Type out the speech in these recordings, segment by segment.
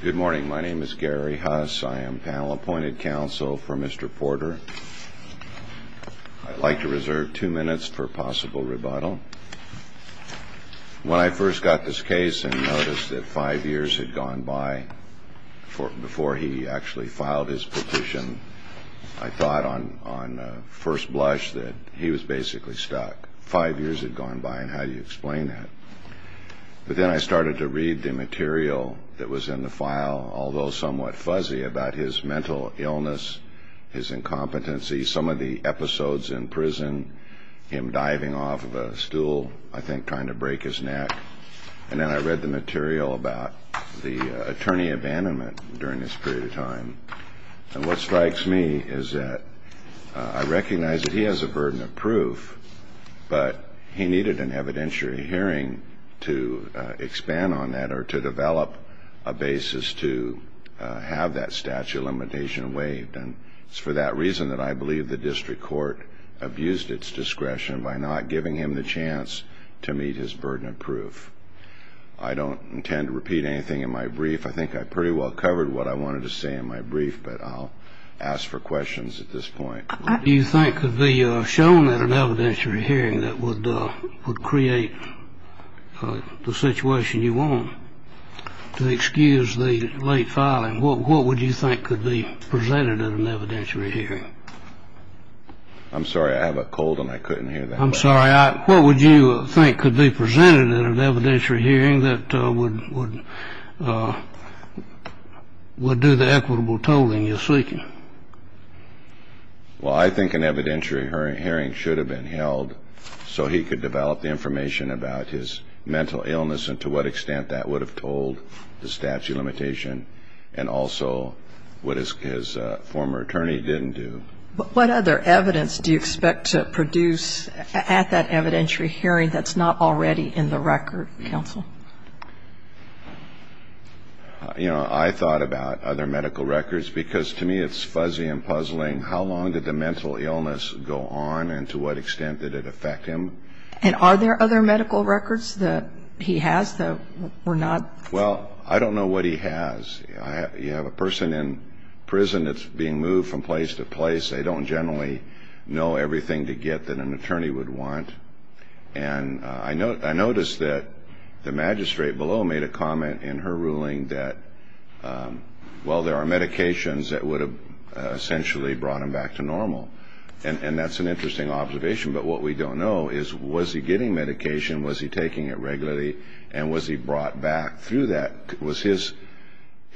Good morning. My name is Gary Huss. I am panel appointed counsel for Mr. Porter. I'd like to reserve two minutes for possible rebuttal. When I first got this case and noticed that five years had gone by before he actually filed his petition, I thought on first blush that he was basically stuck. Five years had gone by, and how do you explain that? But then I started to read the material that was in the file, although somewhat fuzzy, about his mental illness, his incompetency, some of the episodes in prison, him diving off of a stool, I think trying to break his neck. And then I read the material about the attorney abandonment during this period of time. And what strikes me is that I recognize that he has a burden of proof, but he needed an evidentiary hearing to expand on that or to develop a basis to have that statute of limitation waived. And it's for that reason that I believe the district court abused its discretion by not giving him the chance to meet his burden of proof. I don't intend to repeat anything in my brief. I think I pretty well covered what I wanted to say in my brief, but I'll ask for questions at this point. What do you think could be shown at an evidentiary hearing that would create the situation you want? To excuse the late filing, what would you think could be presented at an evidentiary hearing? I'm sorry, I have a cold and I couldn't hear that. I'm sorry, what would you think could be presented at an evidentiary hearing that would do the equitable tolling you're seeking? Well, I think an evidentiary hearing should have been held so he could develop the information about his mental illness and to what extent that would have told the statute of limitation and also what his former attorney didn't do. But what other evidence do you expect to produce at that evidentiary hearing that's not already in the record, counsel? You know, I thought about other medical records because to me it's fuzzy and puzzling. How long did the mental illness go on and to what extent did it affect him? And are there other medical records that he has that were not? Well, I don't know what he has. You have a person in prison that's being moved from place to place. They don't generally know everything to get that an attorney would want. And I noticed that the magistrate below made a comment in her ruling that, well, there are medications that would have essentially brought him back to normal. And that's an interesting observation. But what we don't know is was he getting medication, was he taking it regularly, and was he brought back through that? Was his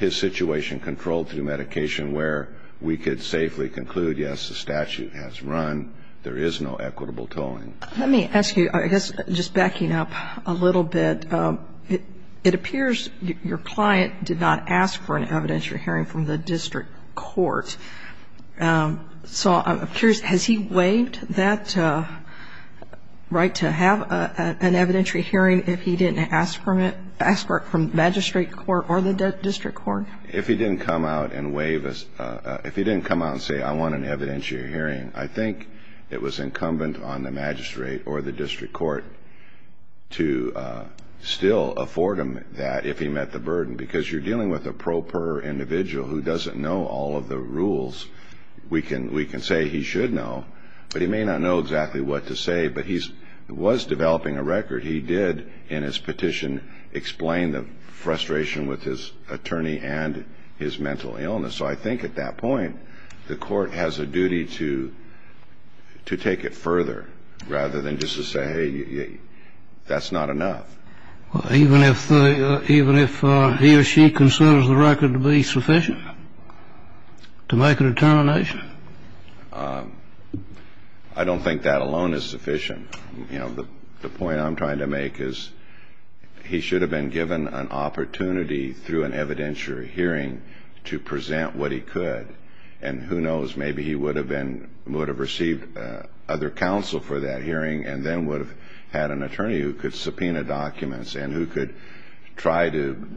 situation controlled through medication where we could safely conclude, yes, the statute has run, there is no equitable tolling? Let me ask you, I guess just backing up a little bit, it appears your client did not ask for an evidentiary hearing from the district court. So I'm curious, has he waived that right to have an evidentiary hearing if he didn't ask for it? If he didn't come out and say, I want an evidentiary hearing, I think it was incumbent on the magistrate or the district court to still afford him that if he met the burden. Because you're dealing with a pro per individual who doesn't know all of the rules. We can say he should know, but he may not know exactly what to say. But he was developing a record. He did in his petition explain the frustration with his attorney and his mental illness. So I think at that point the court has a duty to take it further rather than just to say, hey, that's not enough. Even if he or she considers the record to be sufficient to make a determination? I don't think that alone is sufficient. The point I'm trying to make is he should have been given an opportunity through an evidentiary hearing to present what he could. And who knows, maybe he would have received other counsel for that hearing and then would have had an attorney who could subpoena documents and who could try to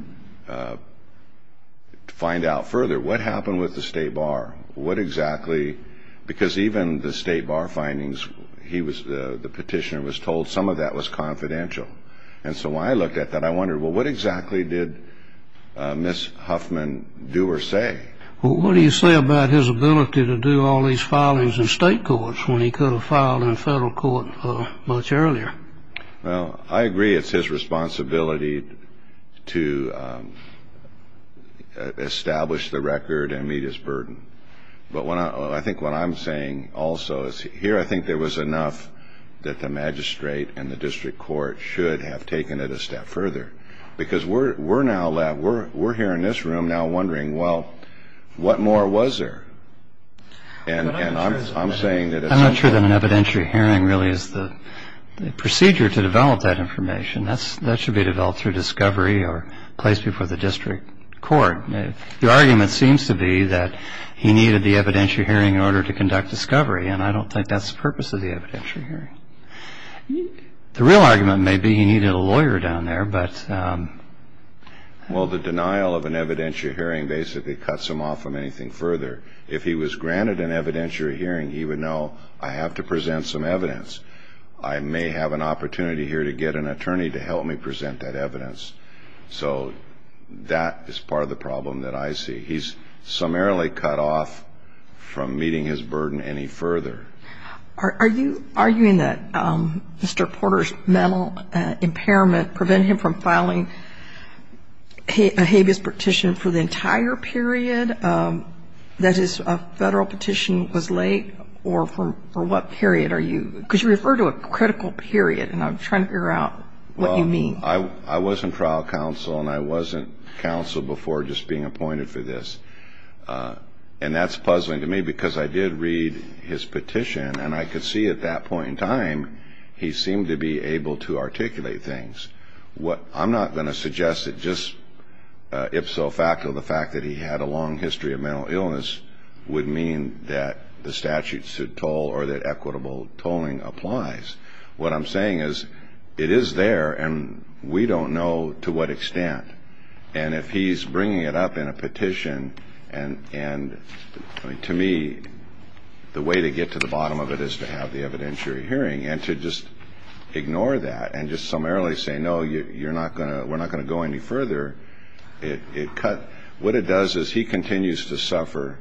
find out further. What happened with the state bar? Because even the state bar findings, the petitioner was told some of that was confidential. And so when I looked at that, I wondered, well, what exactly did Ms. Huffman do or say? Well, what do you say about his ability to do all these filings in state courts when he could have filed in federal court much earlier? Well, I agree it's his responsibility to establish the record and meet his burden. But I think what I'm saying also is here I think there was enough that the magistrate and the district court should have taken it a step further. Because we're here in this room now wondering, well, what more was there? I'm not sure that an evidentiary hearing really is the procedure to develop that information. That should be developed through discovery or placed before the district court. The argument seems to be that he needed the evidentiary hearing in order to conduct discovery. And I don't think that's the purpose of the evidentiary hearing. The real argument may be he needed a lawyer down there. Well, the denial of an evidentiary hearing basically cuts him off from anything further. If he was granted an evidentiary hearing, he would know I have to present some evidence. I may have an opportunity here to get an attorney to help me present that evidence. So that is part of the problem that I see. He's summarily cut off from meeting his burden any further. Are you arguing that Mr. Porter's mental impairment prevented him from filing a habeas petition for the entire period, that his federal petition was late, or for what period? Because you refer to a critical period, and I'm trying to figure out what you mean. Well, I was in trial counsel, and I wasn't counsel before just being appointed for this. And that's puzzling to me because I did read his petition, and I could see at that point in time he seemed to be able to articulate things. I'm not going to suggest that just ipso facto the fact that he had a long history of mental illness would mean that the statute should toll or that equitable tolling applies. What I'm saying is it is there, and we don't know to what extent. And if he's bringing it up in a petition, and to me the way to get to the bottom of it is to have the evidentiary hearing and to just ignore that and just summarily say, no, we're not going to go any further, it cut. What it does is he continues to suffer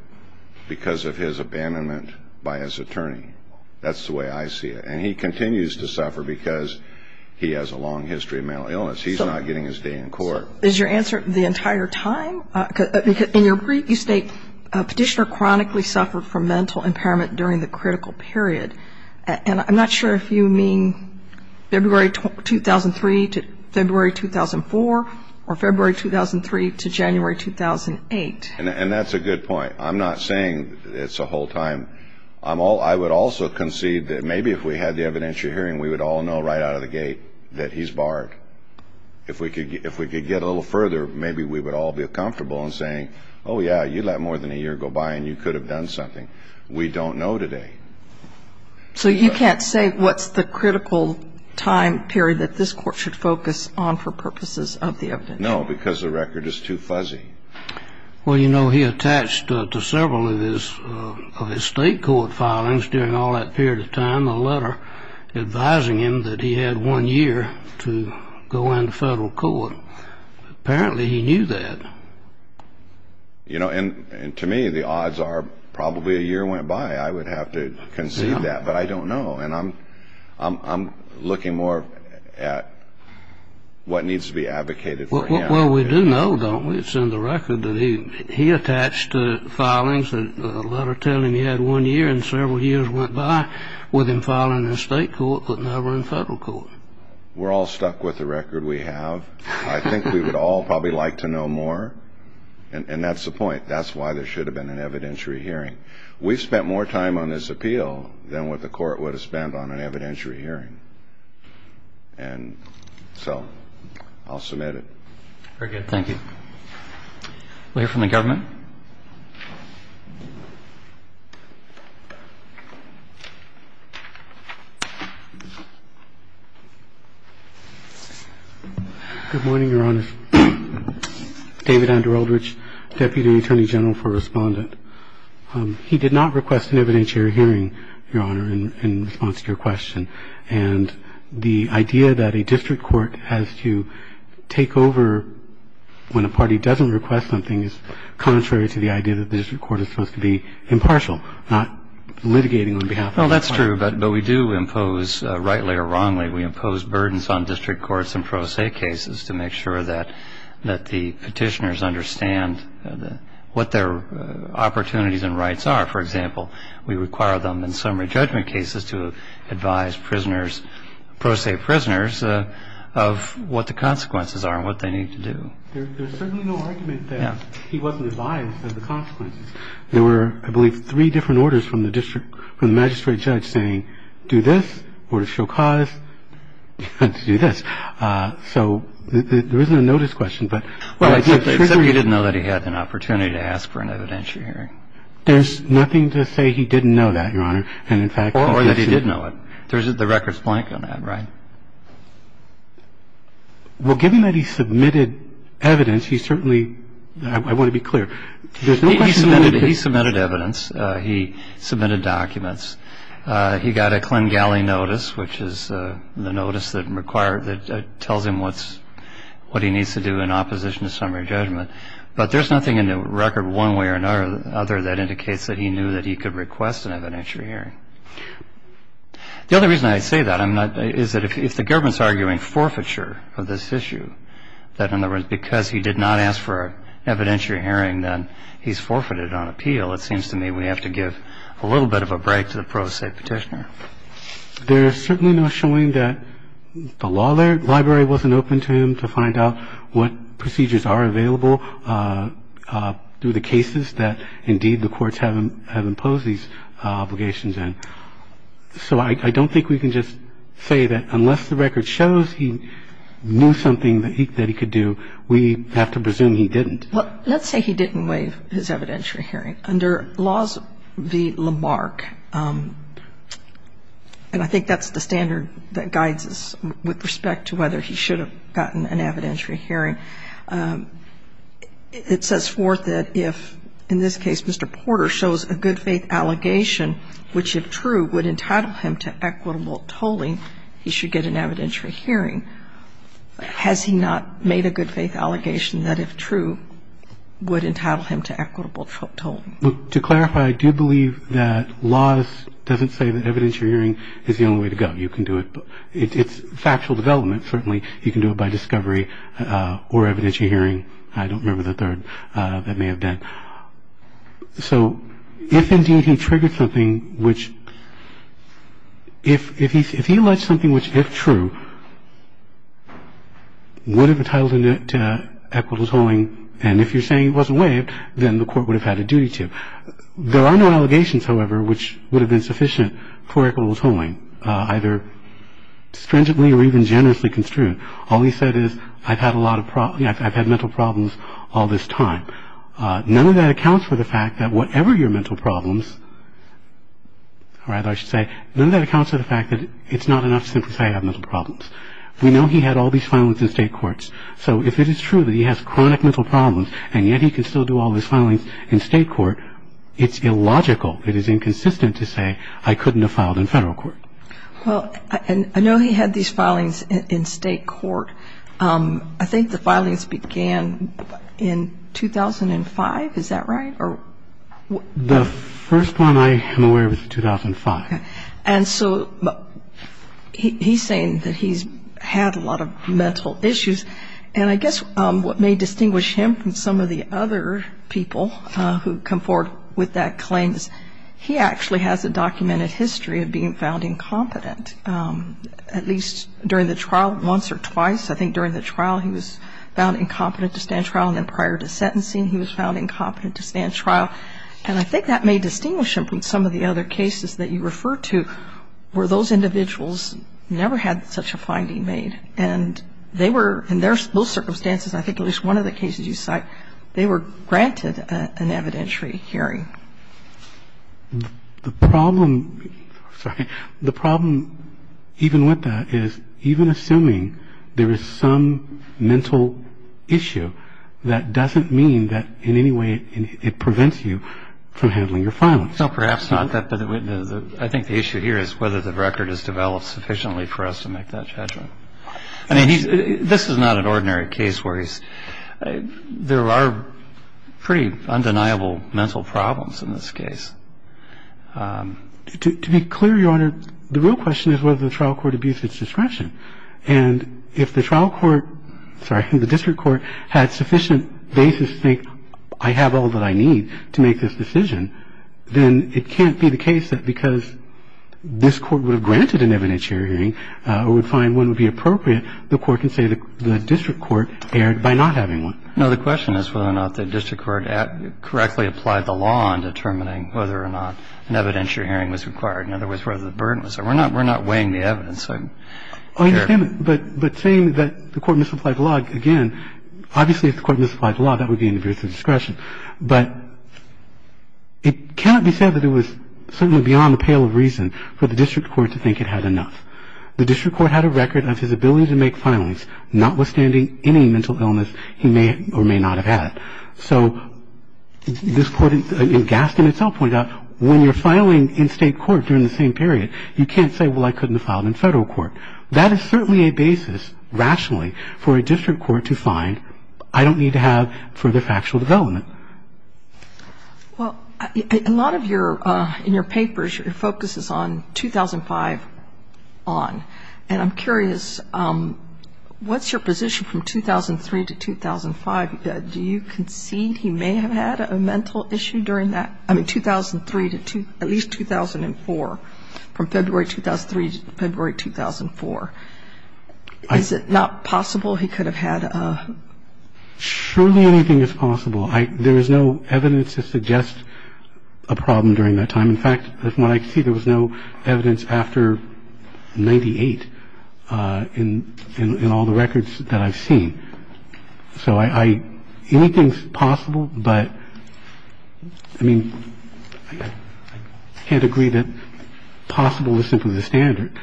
because of his abandonment by his attorney. That's the way I see it. And he continues to suffer because he has a long history of mental illness. He's not getting his day in court. Is your answer the entire time? In your brief, you state petitioner chronically suffered from mental impairment during the critical period. And I'm not sure if you mean February 2003 to February 2004 or February 2003 to January 2008. And that's a good point. I'm not saying it's the whole time. I would also concede that maybe if we had the evidentiary hearing, we would all know right out of the gate that he's barred. If we could get a little further, maybe we would all be comfortable in saying, oh, yeah, you let more than a year go by and you could have done something. We don't know today. So you can't say what's the critical time period that this court should focus on for purposes of the evidentiary? No, because the record is too fuzzy. Well, you know, he attached to several of his state court filings during all that period of time a letter advising him that he had one year to go into federal court. Apparently he knew that. You know, and to me the odds are probably a year went by. I would have to concede that, but I don't know. And I'm looking more at what needs to be advocated for him. Well, we do know, don't we? It's in the record that he attached to filings a letter telling him he had one year and several years went by with him filing in state court but never in federal court. We're all stuck with the record we have. I think we would all probably like to know more, and that's the point. That's why there should have been an evidentiary hearing. We've spent more time on this appeal than what the court would have spent on an evidentiary hearing. And so I'll submit it. Very good. Thank you. We'll hear from the government. Good morning, Your Honor. David Andrew Eldridge, Deputy Attorney General for Respondent. He did not request an evidentiary hearing, Your Honor, in response to your question. And the idea that a district court has to take over when a party doesn't request something is contrary to the idea that the district court is supposed to be impartial, not litigating on behalf of the party. Well, that's true, but we do impose, rightly or wrongly, we impose burdens on district courts in pro se cases to make sure that the petitioners understand what their opportunities and rights are. For example, we require them in summary judgment cases to advise prisoners, pro se prisoners, of what the consequences are and what they need to do. There's certainly no argument that he wasn't advised of the consequences. There were, I believe, three different orders from the magistrate judge saying, do this, order to show cause, do this. So there isn't a notice question. Well, except he didn't know that he had an opportunity to ask for an evidentiary hearing. There's nothing to say he didn't know that, Your Honor. Or that he did know it. The record's blank on that, right? Well, given that he submitted evidence, he certainly, I want to be clear, there's no question that he did. He submitted evidence. He submitted documents. He got a Klingali notice, which is the notice that tells him what he needs to do in opposition to summary judgment. But there's nothing in the record, one way or another, that indicates that he knew that he could request an evidentiary hearing. The only reason I say that is that if the government's arguing forfeiture of this issue, that, in other words, because he did not ask for an evidentiary hearing, then he's forfeited on appeal, it seems to me we have to give a little bit of a break to the pro se petitioner. There is certainly no showing that the law library wasn't open to him to find out what procedures are available through the cases that, indeed, the courts have imposed these obligations in. So I don't think we can just say that unless the record shows he knew something that he could do, we have to presume he didn't. Well, let's say he didn't waive his evidentiary hearing. Under Laws v. Lamarck, and I think that's the standard that guides us with respect to whether he should have gotten an evidentiary hearing, it says forth that if, in this case, Mr. Porter shows a good faith allegation which, if true, would entitle him to equitable tolling, he should get an evidentiary hearing. Has he not made a good faith allegation that, if true, would entitle him to equitable tolling? Look, to clarify, I do believe that Laws doesn't say that evidentiary hearing is the only way to go. You can do it. It's factual development, certainly. You can do it by discovery or evidentiary hearing. I don't remember the third. That may have been. So if, indeed, he triggered something which, if he alleged something which, if true, would have entitled him to equitable tolling, and if you're saying it wasn't waived, then the court would have had a duty to. There are no allegations, however, which would have been sufficient for equitable tolling, either stringently or even generously construed. All he said is, I've had a lot of problems, I've had mental problems all this time. None of that accounts for the fact that whatever your mental problems, or rather I should say, none of that accounts for the fact that it's not enough to simply say I have mental problems. We know he had all these filings in state courts. So if it is true that he has chronic mental problems, and yet he can still do all his filings in state court, it's illogical, it is inconsistent to say, I couldn't have filed in federal court. Well, I know he had these filings in state court. I think the filings began in 2005, is that right? The first one I am aware of is 2005. Okay. And so he's saying that he's had a lot of mental issues, and I guess what may distinguish him from some of the other people who come forward with that claim is he actually has a documented history of being found incompetent, at least during the trial once or twice. I think during the trial he was found incompetent to stand trial, and then prior to sentencing he was found incompetent to stand trial. And I think that may distinguish him from some of the other cases that you refer to where those individuals never had such a finding made. And they were, in those circumstances, I think at least one of the cases you cite, they were granted an evidentiary hearing. The problem, sorry, the problem even with that is even assuming there is some mental issue, that doesn't mean that in any way it prevents you from handling your filings. No, perhaps not. I think the issue here is whether the record is developed sufficiently for us to make that judgment. I mean, this is not an ordinary case where there are pretty undeniable mental problems in this case. To be clear, Your Honor, the real question is whether the trial court abused its discretion. And if the trial court, sorry, the district court had sufficient basis to think, I have all that I need to make this decision, then it can't be the case that because this court would have granted an evidentiary hearing or would find one would be appropriate, the court can say the district court erred by not having one. No, the question is whether or not the district court correctly applied the law in determining whether or not an evidentiary hearing was required. In other words, whether the burden was there. We're not weighing the evidence. But saying that the court misapplied the law, again, obviously if the court misapplied the law, that would be an abuse of discretion. But it cannot be said that it was certainly beyond the pale of reason for the district court to think it had enough. The district court had a record of his ability to make filings, notwithstanding any mental illness he may or may not have had. So this court in Gaston itself pointed out when you're filing in state court during the same period, you can't say, well, I couldn't have filed in federal court. That is certainly a basis, rationally, for a district court to find, I don't need to have further factual development. Kagan. Well, a lot of your, in your papers, your focus is on 2005 on. And I'm curious, what's your position from 2003 to 2005? Do you concede he may have had a mental issue during that? I mean, 2003 to at least 2004, from February 2003 to February 2004. Is it not possible he could have had a? Surely anything is possible. There is no evidence to suggest a problem during that time. In fact, from what I see, there was no evidence after 98 in all the records that I've seen. So I, anything's possible, but I mean, I can't agree that possible is simply the standard.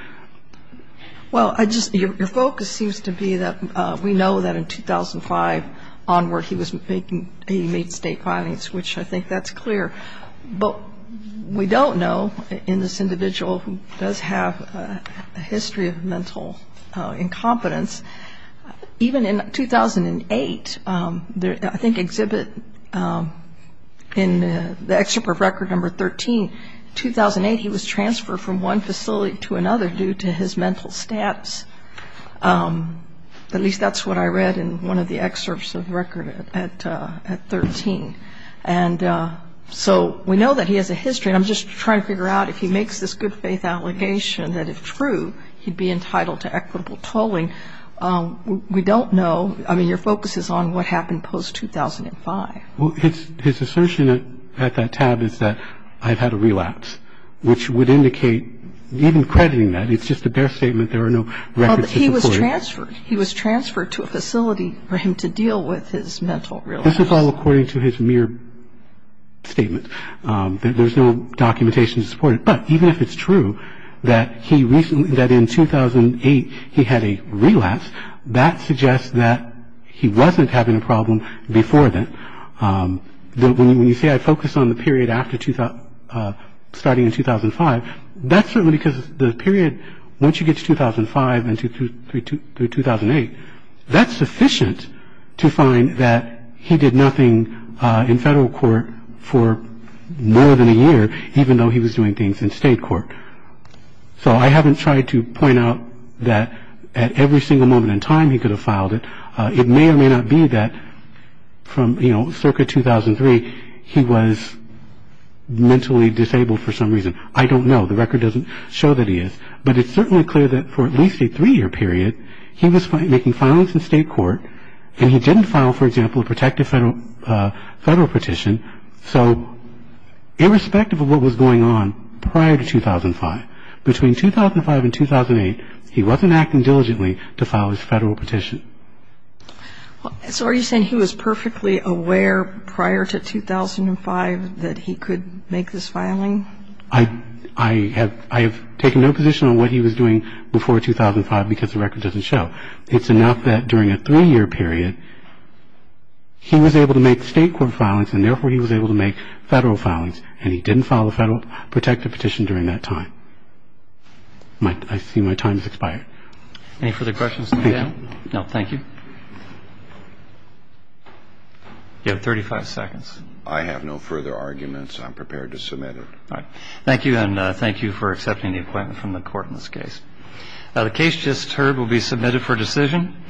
Well, I just, your focus seems to be that we know that in 2005 onward he was making, he made state filings, which I think that's clear. But we don't know in this individual who does have a history of mental incompetence, even in 2008, I think exhibit in the excerpt of record number 13, 2008 he was transferred from one facility to another due to his mental status. At least that's what I read in one of the excerpts of record at 13. And so we know that he has a history. I'm just trying to figure out if he makes this good faith allegation that if true, he'd be entitled to equitable tolling. We don't know. I mean, your focus is on what happened post 2005. Well, his assertion at that tab is that I've had a relapse, which would indicate, even crediting that, it's just a bare statement. There are no records to support it. He was transferred. He was transferred to a facility for him to deal with his mental relapse. This is all according to his mere statement. There's no documentation to support it. But even if it's true that he recently, that in 2008 he had a relapse, that suggests that he wasn't having a problem before then. When you say I focus on the period after starting in 2005, that's certainly because the period once you get to 2005 and through 2008, that's sufficient to find that he did nothing in federal court for more than a year, even though he was doing things in state court. So I haven't tried to point out that at every single moment in time he could have filed it. It may or may not be that from, you know, circa 2003, he was mentally disabled for some reason. I don't know. The record doesn't show that he is. But it's certainly clear that for at least a three-year period, he was making filings in state court, and he didn't file, for example, a protective federal petition. So irrespective of what was going on prior to 2005, between 2005 and 2008, he wasn't acting diligently to file his federal petition. So are you saying he was perfectly aware prior to 2005 that he could make this filing? I have taken no position on what he was doing before 2005 because the record doesn't show. It's enough that during a three-year period, he was able to make state court filings and therefore he was able to make federal filings, and he didn't file a federal protective petition during that time. I see my time has expired. Any further questions? No, thank you. You have 35 seconds. I have no further arguments. I'm prepared to submit it. All right. Thank you, and thank you for accepting the appointment from the Court in this case. The case just heard will be submitted for decision.